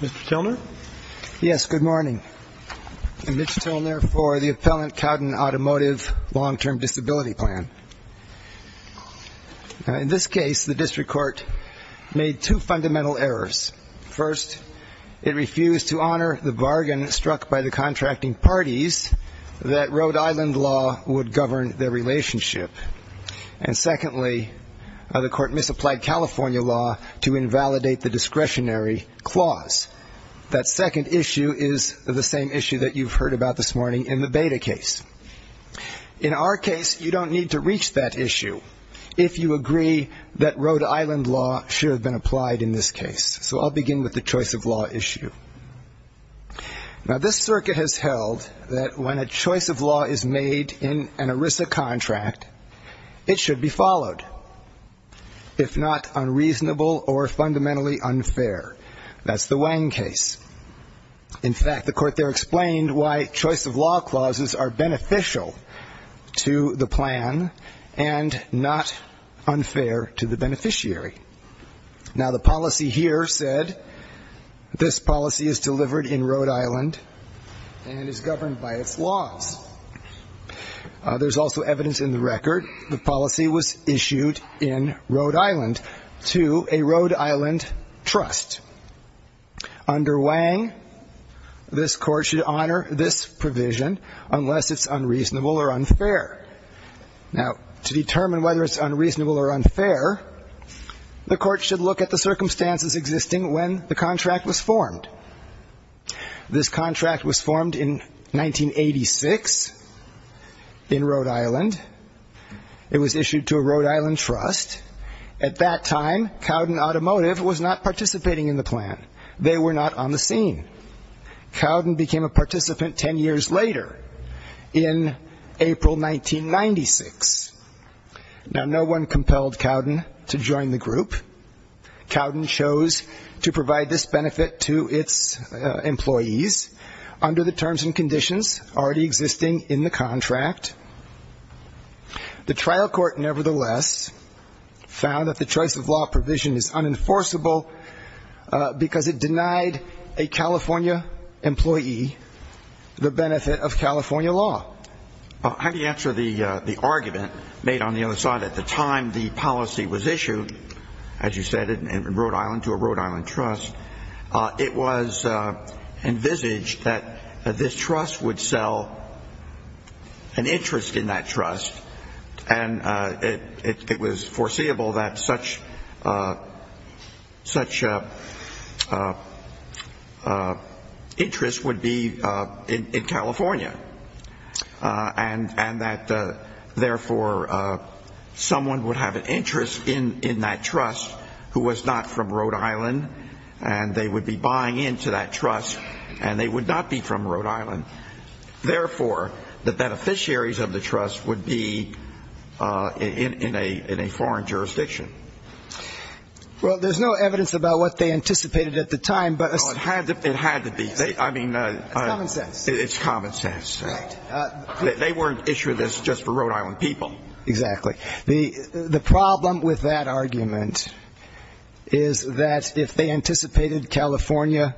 Mr. Tilner? Yes, good morning. I'm Mitch Tilner for the Appellant Cowden Automotive Long-Term Disability Plan. In this case, the district court made two fundamental errors. First, it refused to honor the bargain struck by the contracting parties that Rhode Island law would govern their relationship. And secondly, the court misapplied California law to invalidate the discretionary clause. That second issue is the same issue that you've heard about this morning in the Beta case. In our case, you don't need to reach that issue if you agree that Rhode Island law should have been applied in this case. So I'll begin with the choice of law issue. Now, this circuit has held that when a choice of law is made in an ERISA contract, it should be followed, if not unreasonable or fundamentally unfair. That's the Wang case. In fact, the court there explained why choice of law clauses are beneficial to the plan and not unfair to the beneficiary. Now, the policy here said this policy is delivered in Rhode Island and is governed by its laws. There's also evidence in the record the policy was issued in Rhode Island to a Rhode Island trust. Under Wang, this court should honor this provision unless it's unreasonable or unfair. Now, to determine whether it's unreasonable or unfair, the court should look at the circumstances existing when the contract was formed. This contract was formed in 1986 in Rhode Island. It was issued to a Rhode Island trust. At that time, Cowden Automotive was not participating in the plan. They were not on the scene. Cowden became a participant ten years later in April 1996. Now, no one compelled Cowden to join the group. Cowden chose to provide this benefit to its employees under the terms and conditions already existing in the contract. The trial court, nevertheless, found that the choice of law provision is unenforceable because it denied a California employee the benefit of California law. How do you answer the argument made on the other side? At the time the policy was issued, as you said, in Rhode Island to a Rhode Island trust, it was envisaged that this trust would sell an interest in that trust, and it was foreseeable that such interest would be in California. And that, therefore, someone would have an interest in that trust who was not from Rhode Island, and they would be buying into that trust, and they would not be from Rhode Island. Therefore, the beneficiaries of the trust would be in a foreign jurisdiction. Well, there's no evidence about what they anticipated at the time. It had to be. I mean, it's common sense. Right. They weren't issuing this just for Rhode Island people. Exactly. The problem with that argument is that if they anticipated California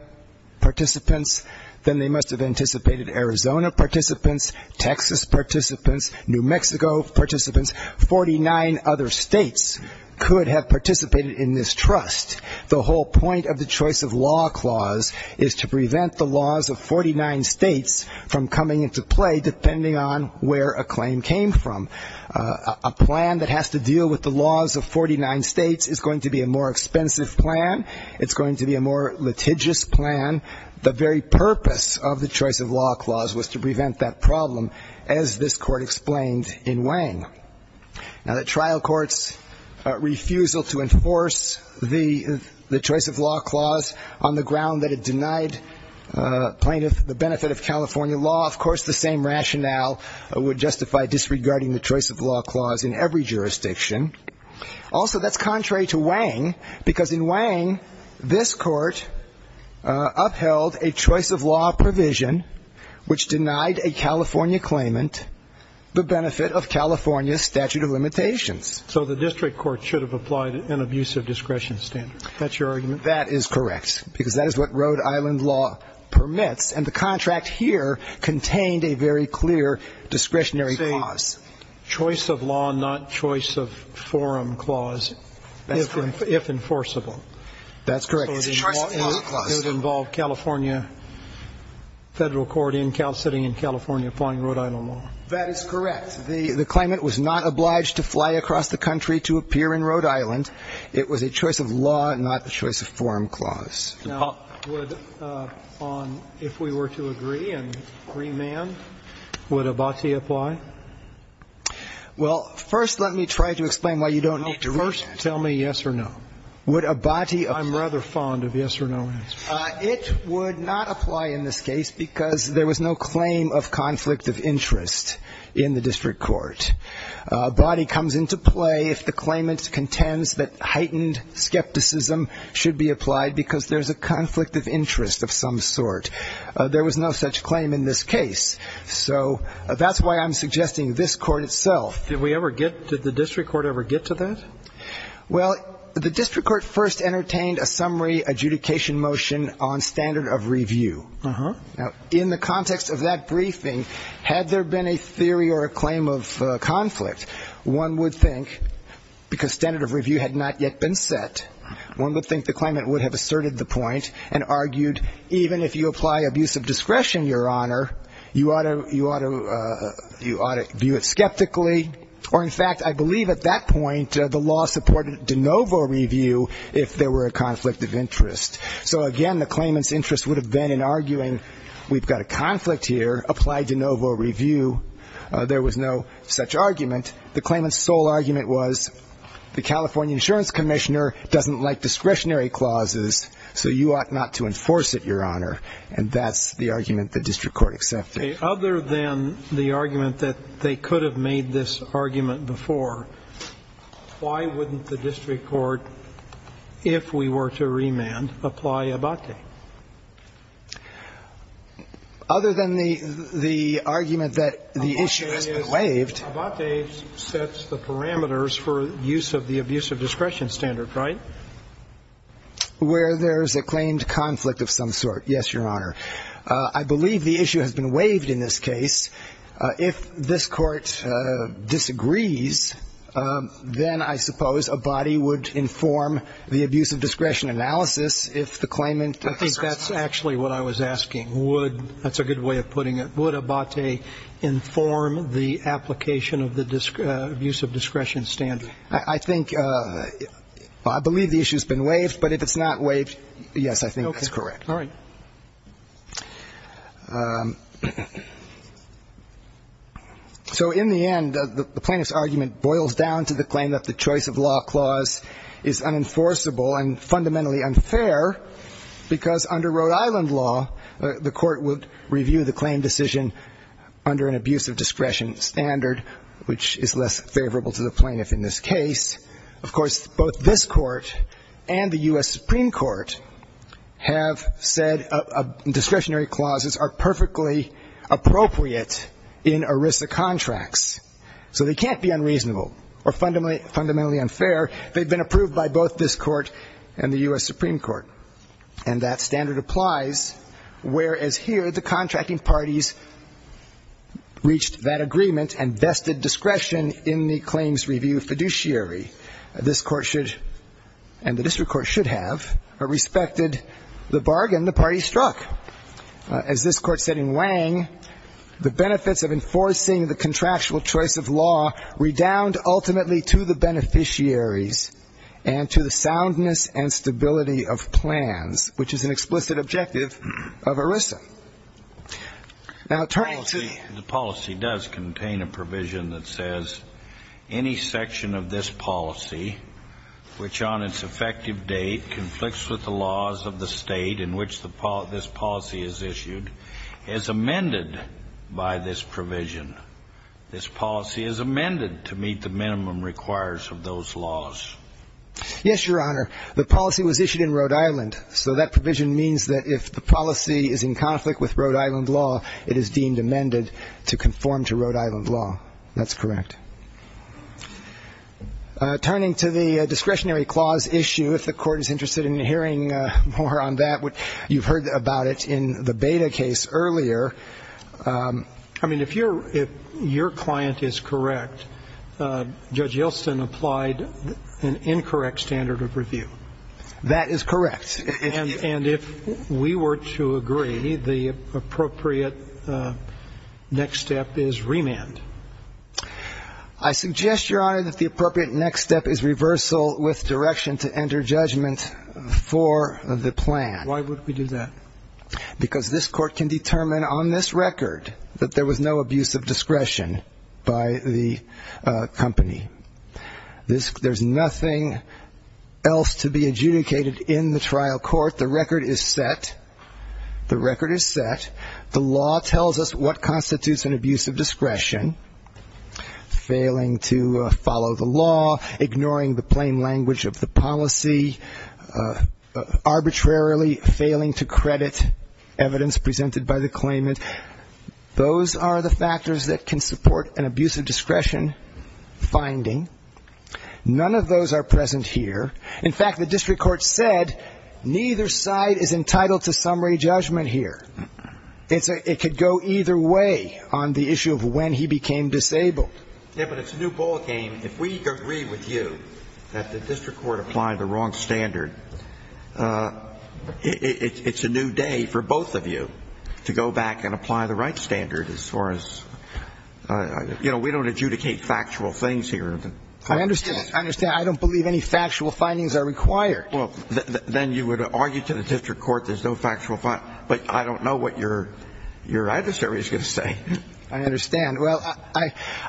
participants, then they must have anticipated Arizona participants, Texas participants, New Mexico participants, 49 other states could have participated in this trust. The whole point of the choice of law clause is to prevent the laws of 49 states from coming into play, depending on where a claim came from. A plan that has to deal with the laws of 49 states is going to be a more expensive plan. It's going to be a more litigious plan. The very purpose of the choice of law clause was to prevent that problem, as this court explained in Wang. Now, the trial court's refusal to enforce the choice of law clause on the ground that it denied plaintiff the benefit of California law, of course, the same rationale would justify disregarding the choice of law clause in every jurisdiction. Also, that's contrary to Wang, because in Wang, this court upheld a choice of law provision which denied a California claimant the benefit of California statute of limitations. So the district court should have applied an abusive discretion standard. That's your argument? That is correct, because that is what Rhode Island law permits, and the contract here contained a very clear discretionary clause. Choice of law, not choice of forum clause, if enforceable. That's correct. It's a choice of law clause. It would involve California Federal Court in Cal City and California applying Rhode Island law. That is correct. The claimant was not obliged to fly across the country to appear in Rhode Island. It was a choice of law, not a choice of forum clause. Now, on if we were to agree and remand, would Abati apply? Well, first let me try to explain why you don't need to read that. Well, first tell me yes or no. Would Abati apply? I'm rather fond of yes or no answers. It would not apply in this case, because there was no claim of conflict of interest in the district court. Abati comes into play if the claimant contends that heightened skepticism should be applied because there's a conflict of interest of some sort. There was no such claim in this case. So that's why I'm suggesting this Court itself. Did we ever get to the district court ever get to that? Well, the district court first entertained a summary adjudication motion on standard of review. Now, in the context of that briefing, had there been a theory or a claim of conflict, one would think, because standard of review had not yet been set, one would think the claimant would have asserted the point and argued even if you apply abusive discretion, Your Honor, you ought to view it skeptically. Or, in fact, I believe at that point the law supported de novo review if there were a conflict of interest. So, again, the claimant's interest would have been in arguing we've got a conflict here, apply de novo review. There was no such argument. The claimant's sole argument was the California Insurance Commissioner doesn't like discretionary clauses, so you ought not to enforce it, Your Honor. And that's the argument the district court accepted. Okay. Other than the argument that they could have made this argument before, why wouldn't the district court, if we were to remand, apply Abate? Other than the argument that the issue has been waived. Abate sets the parameters for use of the abusive discretion standard, right? Where there's a claimed conflict of some sort, yes, Your Honor. I believe the issue has been waived in this case. If this Court disagrees, then I suppose Abate would inform the abusive discretion analysis if the claimant asserts. I think that's actually what I was asking. Would – that's a good way of putting it. Would Abate inform the application of the abusive discretion standard? I think – I believe the issue has been waived, but if it's not waived, yes, I think that's correct. Okay. All right. So in the end, the plaintiff's argument boils down to the claim that the choice of law clause is unenforceable and fundamentally unfair because under Rhode Island law, the Court would review the claim decision under an abusive discretion standard, which is less favorable to the plaintiff in this case. Of course, both this Court and the U.S. Supreme Court have said discretionary clauses are perfectly appropriate in ERISA contracts. So they can't be unreasonable or fundamentally unfair. They've been approved by both this Court and the U.S. Supreme Court. And that standard applies, whereas here the contracting parties reached that agreement and vested discretion in the claims review fiduciary. This Court should, and the district court should have, respected the bargain the party struck. As this Court said in Wang, the benefits of enforcing the contractual choice of law redound ultimately to the beneficiaries and to the soundness and stability of plans, which is an explicit objective of ERISA. Now, turning to the... The policy does contain a provision that says any section of this policy which on its effective date conflicts with the laws of the State in which this policy is issued is amended by this provision. This policy is amended to meet the minimum requires of those laws. Yes, Your Honor. The policy was issued in Rhode Island, so that provision means that if the policy is in conflict with Rhode Island law, it is deemed amended to conform to Rhode Island law. That's correct. Turning to the discretionary clause issue, if the Court is interested in hearing more on that, you've heard about it in the Beda case earlier. I mean, if your client is correct, Judge Yeltsin applied an incorrect standard of review. That is correct. And if we were to agree, the appropriate next step is remand. I suggest, Your Honor, that the appropriate next step is reversal with direction to enter judgment for the plan. Why would we do that? Because this Court can determine on this record that there was no abuse of discretion by the company. There's nothing else to be adjudicated in the trial court. The record is set. The record is set. The law tells us what constitutes an abuse of discretion, failing to follow the law, ignoring the plain language of the policy, arbitrarily failing to credit evidence presented by the claimant. Those are the factors that can support an abuse of discretion finding. None of those are present here. In fact, the district court said neither side is entitled to summary judgment here. It could go either way on the issue of when he became disabled. Yeah, but it's a new ballgame. If we agree with you that the district court applied the wrong standard, it's a new day for both of you to go back and apply the right standard as far as, you know, we don't adjudicate factual things here. I understand. I understand. I don't believe any factual findings are required. Well, then you would argue to the district court there's no factual, but I don't know what your adversary is going to say. I understand. Well,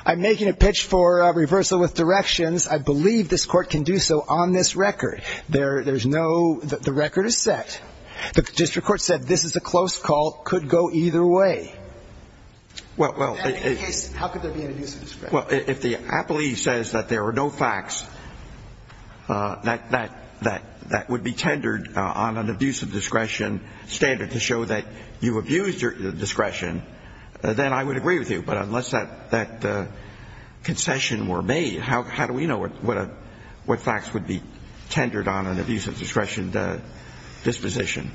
I'm making a pitch for reversal with directions. I believe this Court can do so on this record. There's no the record is set. The district court said this is a close call, could go either way. Well, in that case, how could there be an abuse of discretion? Well, if the appellee says that there are no facts that would be tendered on an abuse of discretion standard to show that you abused your discretion, then I would agree with you. But unless that concession were made, how do we know what facts would be tendered on an abuse of discretion disposition?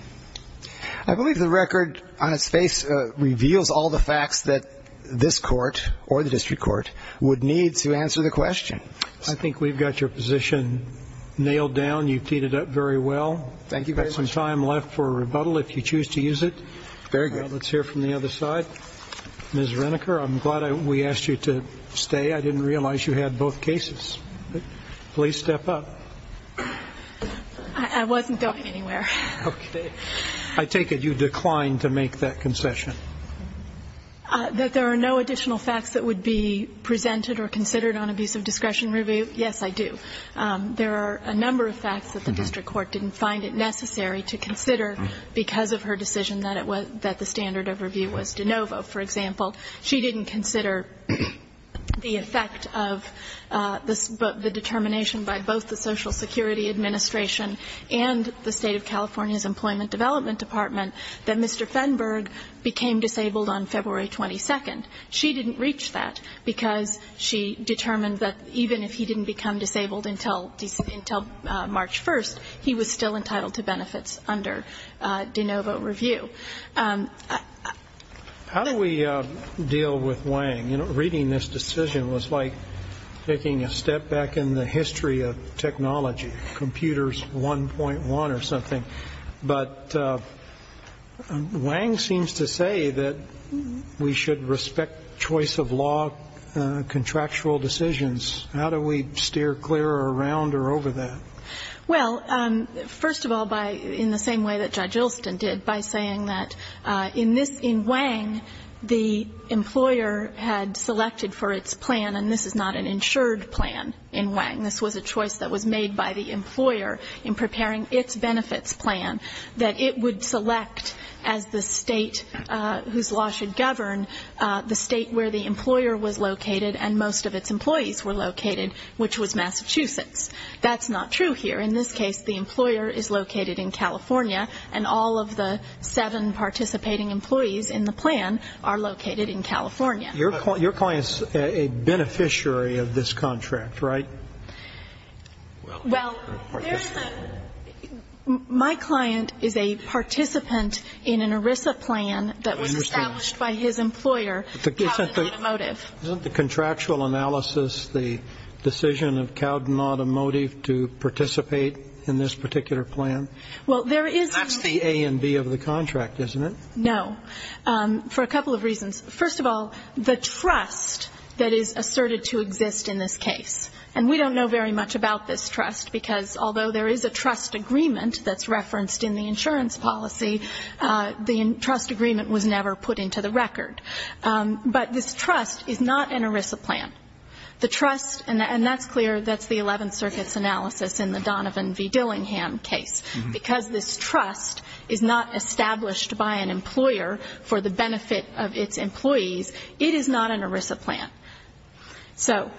I believe the record on its face reveals all the facts that this Court or the district court would need to answer the question. I think we've got your position nailed down. You've teed it up very well. Thank you very much. We've got some time left for a rebuttal if you choose to use it. Very good. Let's hear from the other side. Ms. Reniker, I'm glad we asked you to stay. I didn't realize you had both cases. Please step up. I wasn't going anywhere. Okay. I take it you declined to make that concession. That there are no additional facts that would be presented or considered on abuse of discretion review, yes, I do. There are a number of facts that the district court didn't find it necessary to consider because of her decision that the standard of review was de novo. For example, she didn't consider the effect of the determination by both the social security administration and the State of California's Employment Development Department that Mr. Fenberg became disabled on February 22nd. She didn't reach that because she determined that even if he didn't become disabled until March 1st, he was still entitled to benefits under de novo review. How do we deal with Wang? Reading this decision was like taking a step back in the history of technology, computers 1.1 or something. But Wang seems to say that we should respect choice of law contractual decisions. How do we steer clear around or over that? Well, first of all, in the same way that Judge Ilston did, by saying that in this, in Wang, the employer had selected for its plan, and this is not an insured plan in Wang. This was a choice that was made by the employer in preparing its benefits plan, that it would select as the state whose law should govern the state where the employer was located and most of its employees were located, which was Massachusetts. That's not true here. In this case, the employer is located in California, and all of the seven participating employees in the plan are located in California. Your client is a beneficiary of this contract, right? Well, my client is a participant in an ERISA plan that was established by his employer, Cowden Automotive. Isn't the contractual analysis the decision of Cowden Automotive to participate in this particular plan? That's the A and B of the contract, isn't it? No, for a couple of reasons. First of all, the trust that is asserted to exist in this case, and we don't know very much about this trust, because although there is a trust agreement that's referenced in the insurance policy, the trust agreement was never put into the record. But this trust is not an ERISA plan. The trust, and that's clear, that's the Eleventh Circuit's analysis in the Donovan v. Dillingham case. Because this trust is not established by an employer for the benefit of its employees, it is not an ERISA plan. So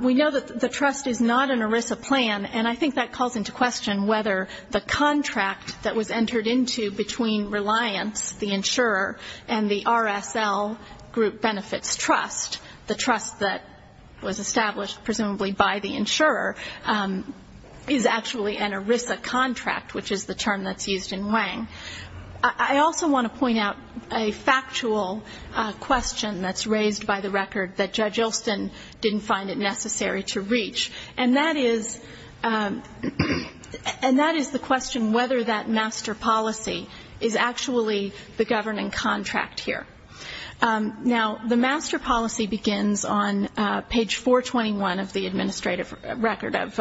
we know that the trust is not an ERISA plan, and I think that calls into question whether the contract that was entered into between Reliance, the insurer, and the RSL Group Benefits Trust, the trust that was established presumably by the insurer, is actually an ERISA contract, which is the term that's used in Wang. I also want to point out a factual question that's raised by the record that Judge Ilston didn't find it necessary to reach, and that is the question whether that master policy is actually the governing contract here. Now, the master policy begins on page 421 of the administrative record, of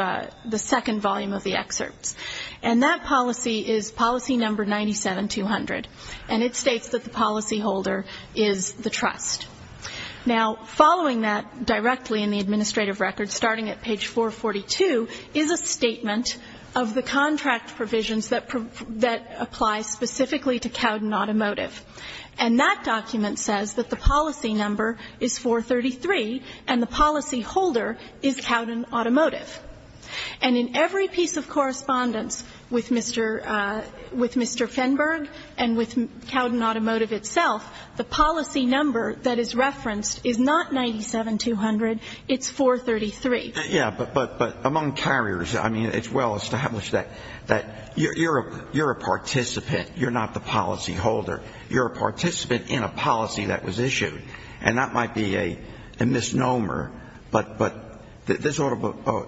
the second volume of the excerpts. And that policy is policy number 97200, and it states that the policyholder is the trust. Now, following that directly in the administrative record, starting at page 442, is a statement of the contract provisions that apply specifically to Cowden Automotive. And that document says that the policy number is 433, and the policyholder is Cowden Automotive. And in every piece of correspondence with Mr. Fenberg and with Cowden Automotive itself, the policy number that is referenced is not 97200, it's 433. Yeah, but among carriers, I mean, it's well established that you're a participant, you're not the policyholder. You're a participant in a policy that was issued. And that might be a misnomer, but this ought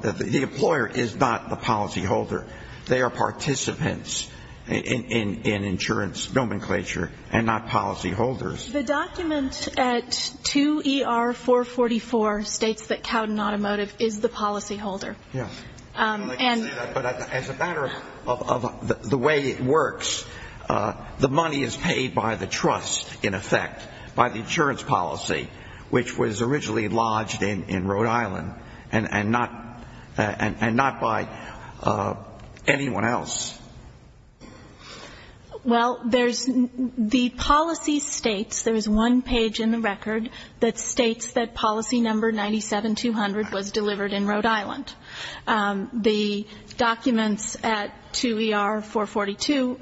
to be the employer is not the policyholder. They are participants in insurance nomenclature and not policyholders. The document at 2ER444 states that Cowden Automotive is the policyholder. Yeah. And as a matter of the way it works, the money is paid by the trust, in effect, by the insurance policy, which was originally lodged in Rhode Island, and not by anyone else. Well, there's the policy states, there's one page in the record that states that policy number 97200 was delivered in Rhode Island. The documents at 2ER442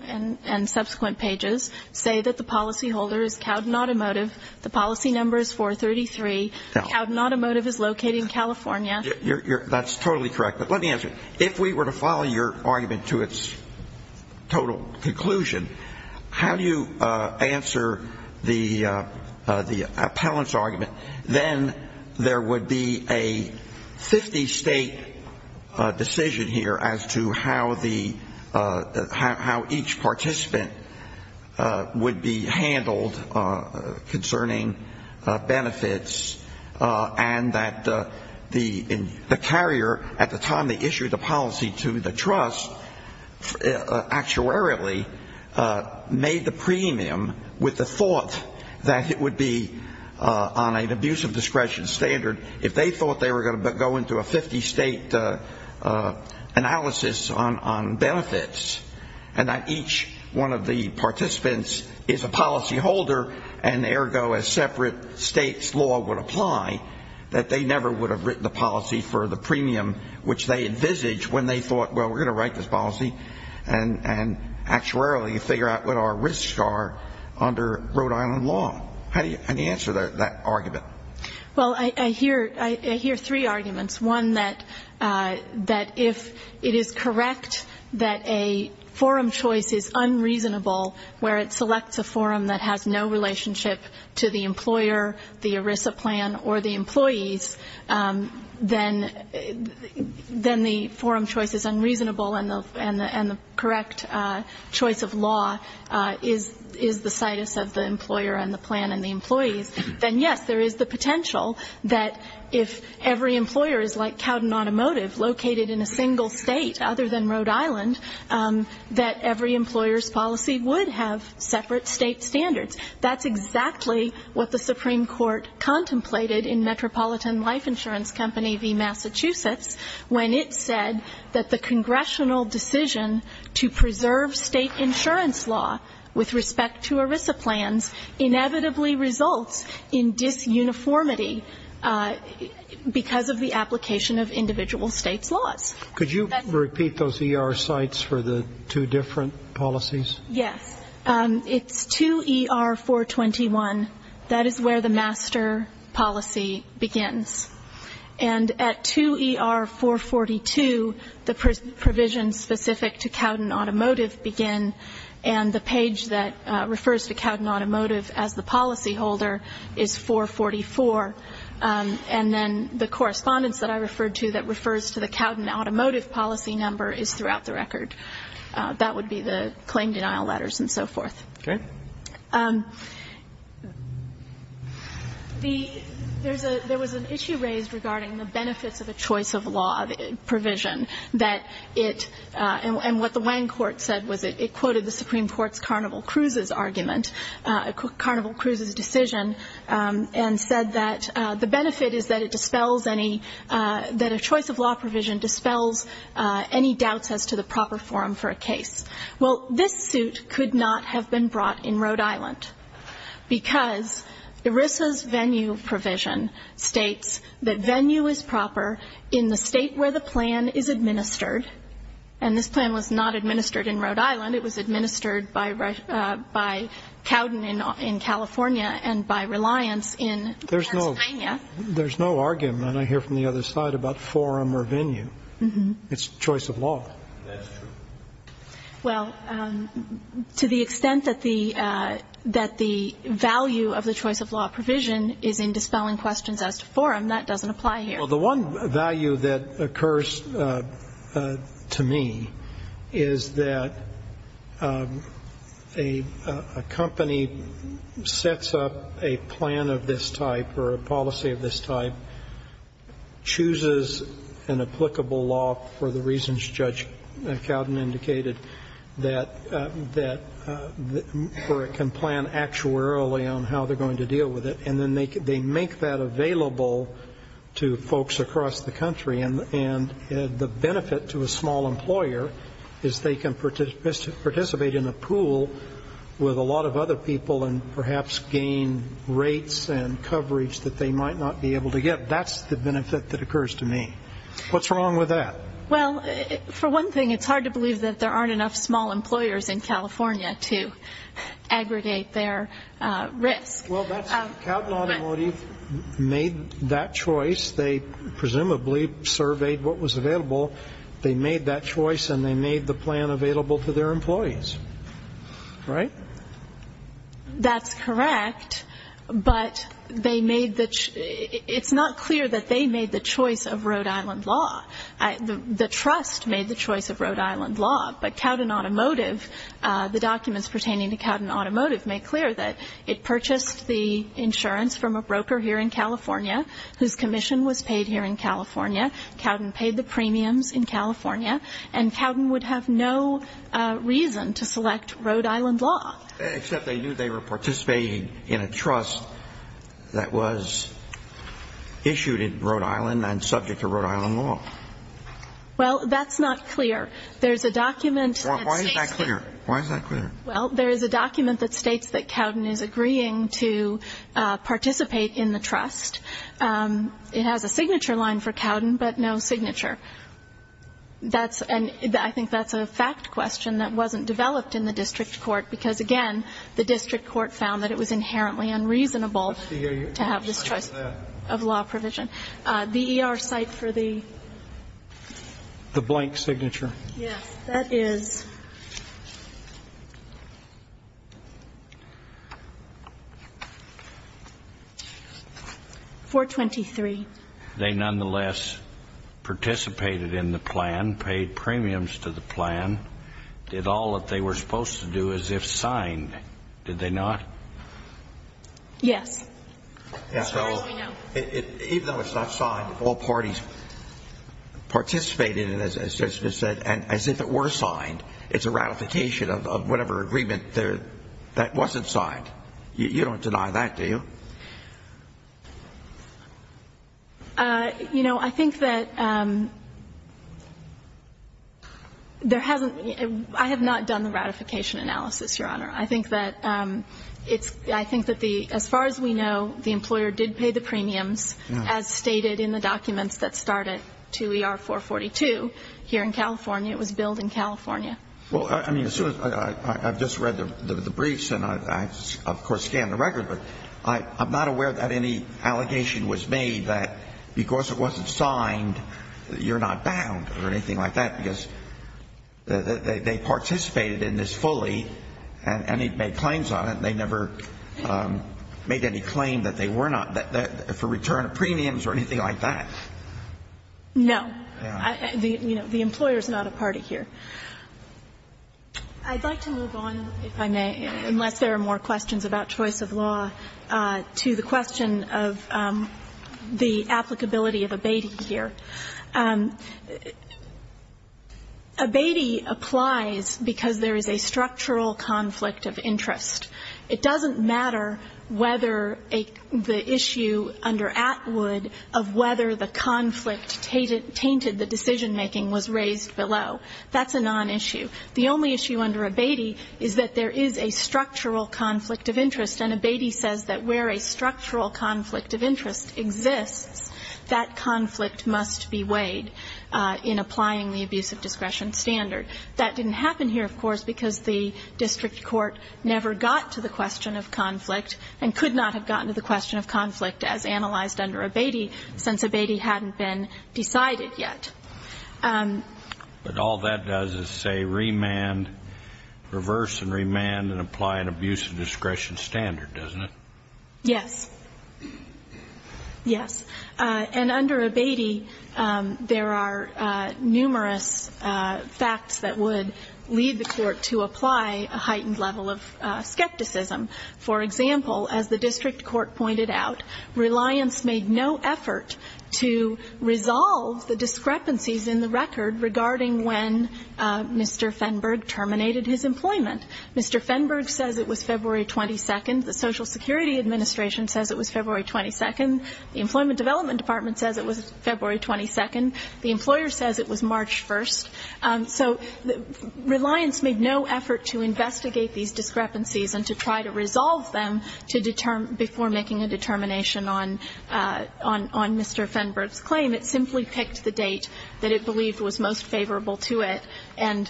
and subsequent pages say that the policyholder is Cowden Automotive, the policy number is 433, Cowden Automotive is located in California. That's totally correct. But let me ask you, if we were to follow your argument to its total conclusion, how do you answer the appellant's argument, then there would be a 50-state decision here as to how each participant would be handled concerning benefits, and that the carrier, at the time they issued the policy to the trust, actuarially made the premium with the thought that it would be on an abuse of discretion standard if they thought they were going to go into a 50-state analysis on benefits, and that each one of the participants is a policyholder, and ergo a separate state's law would apply, that they never would have written the policy for the premium which they envisaged when they thought, well, we're going to write this policy and actuarially figure out what our risks are under Rhode Island law. How do you answer that argument? Well, I hear three arguments, one that if it is correct that a forum choice is unreasonable where it selects a forum that has no relationship to the employer, the ERISA plan, or the employees, then the forum choice is unreasonable, and the correct choice of law is the situs of the employer and the plan and the employees. Then, yes, there is the potential that if every employer is like Cowden Automotive, located in a single state other than Rhode Island, that every employer's policy would have separate state standards. That's exactly what the Supreme Court contemplated in Metropolitan Life Insurance Company v. Massachusetts when it said that the congressional decision to preserve state insurance law with respect to ERISA plans inevitably results in disuniformity because of the application of individual states' laws. Could you repeat those ER sites for the two different policies? Yes. It's 2ER-421. That is where the master policy begins. And at 2ER-442, the provisions specific to Cowden Automotive begin, and the page that refers to Cowden Automotive as the policyholder is 444. And then the correspondence that I referred to that refers to the Cowden Automotive policy number is throughout the record. That would be the claim denial letters and so forth. Okay. There was an issue raised regarding the benefits of a choice of law provision that it, and what the Wang court said was it quoted the Supreme Court's Carnival Cruises argument, Carnival Cruises' decision, and said that the benefit is that it dispels any, that a choice of law provision dispels any doubts as to the proper form for a case. Well, this suit could not have been brought in Rhode Island because ERISA's venue provision states that venue is proper in the state where the plan is administered. And this plan was not administered in Rhode Island. It was administered by Cowden in California and by Reliance in Pennsylvania. There's no argument, I hear from the other side, about forum or venue. It's choice of law. That's true. Well, to the extent that the value of the choice of law provision is in dispelling questions as to forum, that doesn't apply here. Well, the one value that occurs to me is that a company sets up a plan of this type or a policy of this type, chooses an applicable law for the reasons Judge Cowden indicated, that can plan actuarially on how they're going to deal with it, and then they make that available to folks across the country. And the benefit to a small employer is they can participate in a pool with a lot of other people and perhaps gain rates and coverage that they might not be able to get. That's the benefit that occurs to me. What's wrong with that? Well, for one thing, it's hard to believe that there aren't enough small employers in California to aggregate their risk. Well, that's right. Cowden Automotive made that choice. They presumably surveyed what was available. They made that choice, and they made the plan available to their employees, right? That's correct, but it's not clear that they made the choice of Rhode Island law. The trust made the choice of Rhode Island law, but Cowden Automotive, the documents pertaining to Cowden Automotive make clear that it purchased the insurance from a broker here in California, whose commission was paid here in California. Cowden paid the premiums in California, and Cowden would have no reason to select Rhode Island law. Except they knew they were participating in a trust that was issued in Rhode Island and subject to Rhode Island law. Well, that's not clear. There's a document that states that. Why is that clear? Well, there is a document that states that Cowden is agreeing to participate in the trust. It has a signature line for Cowden, but no signature. And I think that's a fact question that wasn't developed in the district court, because, again, the district court found that it was inherently unreasonable to have this choice of law provision. The ER site for the? The blank signature. Yes. That is 423. They nonetheless participated in the plan, paid premiums to the plan, did all that they were supposed to do, as if signed. Did they not? Yes. As far as we know. Even though it's not signed, all parties participated in it, as it was said, and as if it were signed. It's a ratification of whatever agreement that wasn't signed. You don't deny that, do you? You know, I think that there hasn't been ‑‑ I have not done the ratification analysis, Your Honor. I think that the ‑‑ as far as we know, the employer did pay the premiums, as stated in the documents that start at 2ER442, here in California. It was billed in California. Well, I mean, as soon as ‑‑ I've just read the briefs, and I, of course, scanned the record, but I'm not aware that any allegation was made that because it wasn't signed, you're not bound or anything like that, because they participated in this fully, and they made claims on it, and they never made any claim that they were not, for return of premiums or anything like that. No. You know, the employer is not a party here. I'd like to move on, if I may, unless there are more questions about choice of law, to the question of the applicability of abating here. Abating applies because there is a structural conflict of interest. It doesn't matter whether the issue under Atwood of whether the conflict tainted the decision making was raised below. That's a nonissue. The only issue under abating is that there is a structural conflict of interest, and abating says that where a structural conflict of interest exists, that conflict must be weighed in applying the abuse of discretion standard. That didn't happen here, of course, because the district court never got to the question of conflict and could not have gotten to the question of conflict as analyzed under abating, since abating hadn't been decided yet. But all that does is say remand, reverse and remand, and apply an abuse of discretion standard, doesn't it? Yes. Yes. And under abating, there are numerous facts that would lead the court to apply a heightened level of skepticism. For example, as the district court pointed out, Reliance made no effort to resolve the discrepancies in the record regarding when Mr. Fenberg terminated his employment. Mr. Fenberg says it was February 22nd. The Social Security Administration says it was February 22nd. The Employment Development Department says it was February 22nd. The employer says it was March 1st. So Reliance made no effort to investigate these discrepancies and to try to resolve them before making a determination on Mr. Fenberg's claim. The argument simply picked the date that it believed was most favorable to it and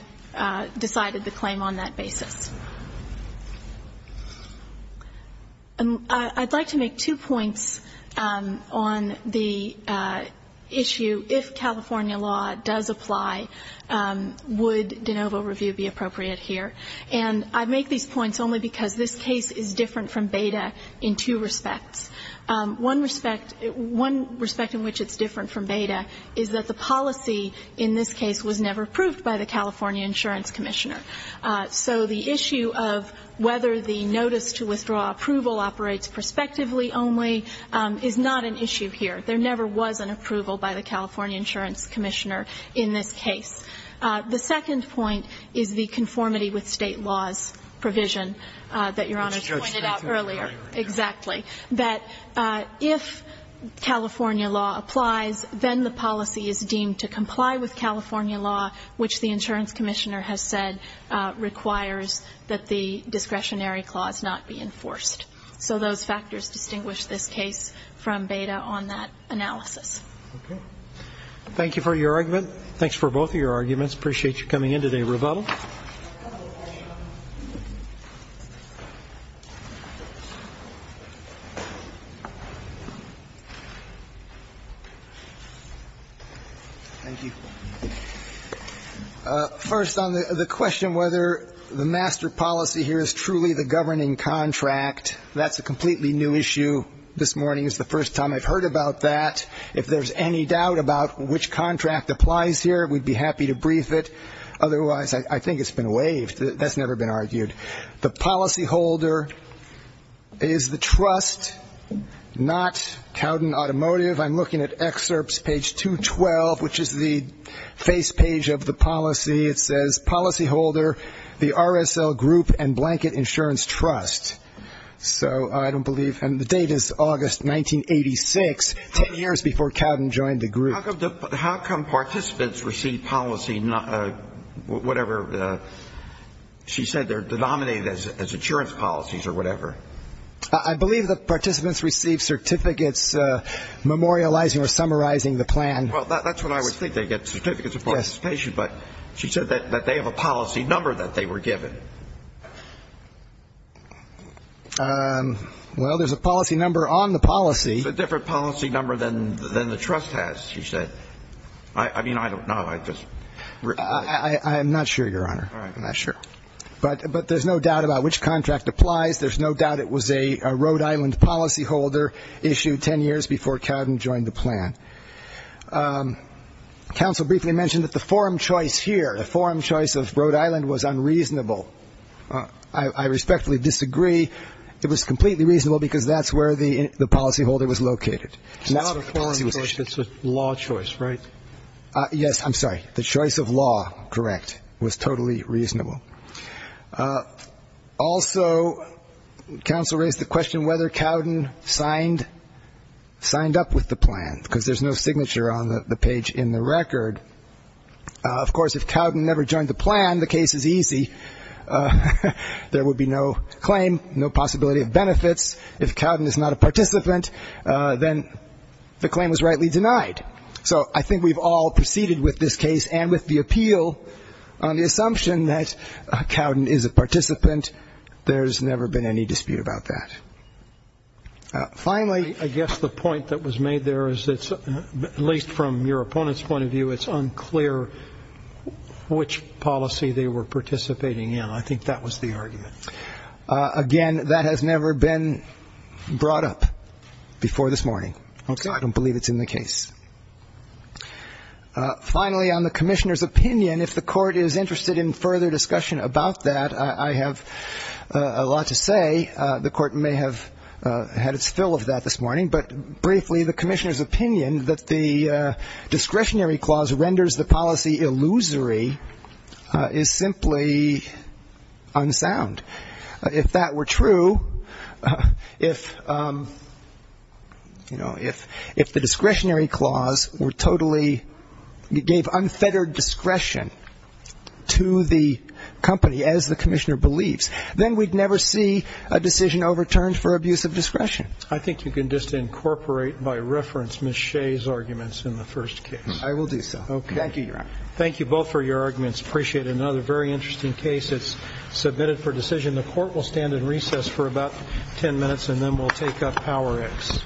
decided the claim on that basis. I'd like to make two points on the issue if California law does apply, would de novo review be appropriate here? And I make these points only because this case is different from Beda in two respects. One respect in which it's different from Beda is that the policy in this case was never approved by the California Insurance Commissioner. So the issue of whether the notice to withdraw approval operates prospectively only is not an issue here. There never was an approval by the California Insurance Commissioner in this case. The second point is the conformity with State laws provision that Your Honor pointed out earlier. Exactly. That if California law applies, then the policy is deemed to comply with California law, which the insurance commissioner has said requires that the discretionary clause not be enforced. So those factors distinguish this case from Beda on that analysis. Okay. Thank you for your argument. Thanks for both of your arguments. Appreciate you coming in today. Revato. Thank you. First on the question whether the master policy here is truly the governing contract, that's a completely new issue. This morning is the first time I've heard about that. If there's any doubt about which contract applies here, we'd be happy to brief it. Otherwise, I think it's been waived. That's never been argued. The policyholder is the trust, not Cowden Automotive. I'm looking at excerpts, page 212, which is the face page of the policy. It says policyholder, the RSL Group and Blanket Insurance Trust. So I don't believe. And the date is August 1986, 10 years before Cowden joined the group. How come participants receive policy, whatever she said, they're denominated as insurance policies or whatever? I believe the participants receive certificates memorializing or summarizing the plan. Well, that's what I would think. They get certificates of participation. But she said that they have a policy number that they were given. Well, there's a policy number on the policy. It's a different policy number than the trust has, she said. I mean, I don't know. I just ‑‑ I'm not sure, Your Honor. All right. I'm not sure. But there's no doubt about which contract applies. There's no doubt it was a Rhode Island policyholder issued 10 years before Cowden joined the plan. Counsel briefly mentioned that the forum choice here, the forum choice of Rhode Island was unreasonable. I respectfully disagree. It was completely reasonable because that's where the policyholder was located. It's not a forum choice. It's a law choice, right? Yes. I'm sorry. The choice of law, correct, was totally reasonable. Also, counsel raised the question whether Cowden signed up with the plan, because there's no signature on the page in the record. Of course, if Cowden never joined the plan, the case is easy. There would be no claim, no possibility of benefits. If Cowden is not a participant, then the claim was rightly denied. So I think we've all proceeded with this case and with the appeal on the assumption that Cowden is a participant. There's never been any dispute about that. Finally, I guess the point that was made there is it's, at least from your opponent's point of view, it's unclear which policy they were participating in. I think that was the argument. Again, that has never been brought up before this morning. Okay. So I don't believe it's in the case. Finally, on the Commissioner's opinion, if the Court is interested in further discussion about that, I have a lot to say. The Court may have had its fill of that this morning. But briefly, the Commissioner's opinion that the discretionary clause renders the policy illusory is simply unsound. If that were true, if, you know, if the discretionary clause were totally, gave unfettered discretion to the company as the Commissioner believes, then we'd never see a decision overturned for abuse of discretion. I think you can just incorporate by reference Ms. Shea's arguments in the first case. I will do so. Thank you, Your Honor. Thank you both for your arguments. Appreciate it. This is another very interesting case. It's submitted for decision. The Court will stand in recess for about ten minutes, and then we'll take up PowerX.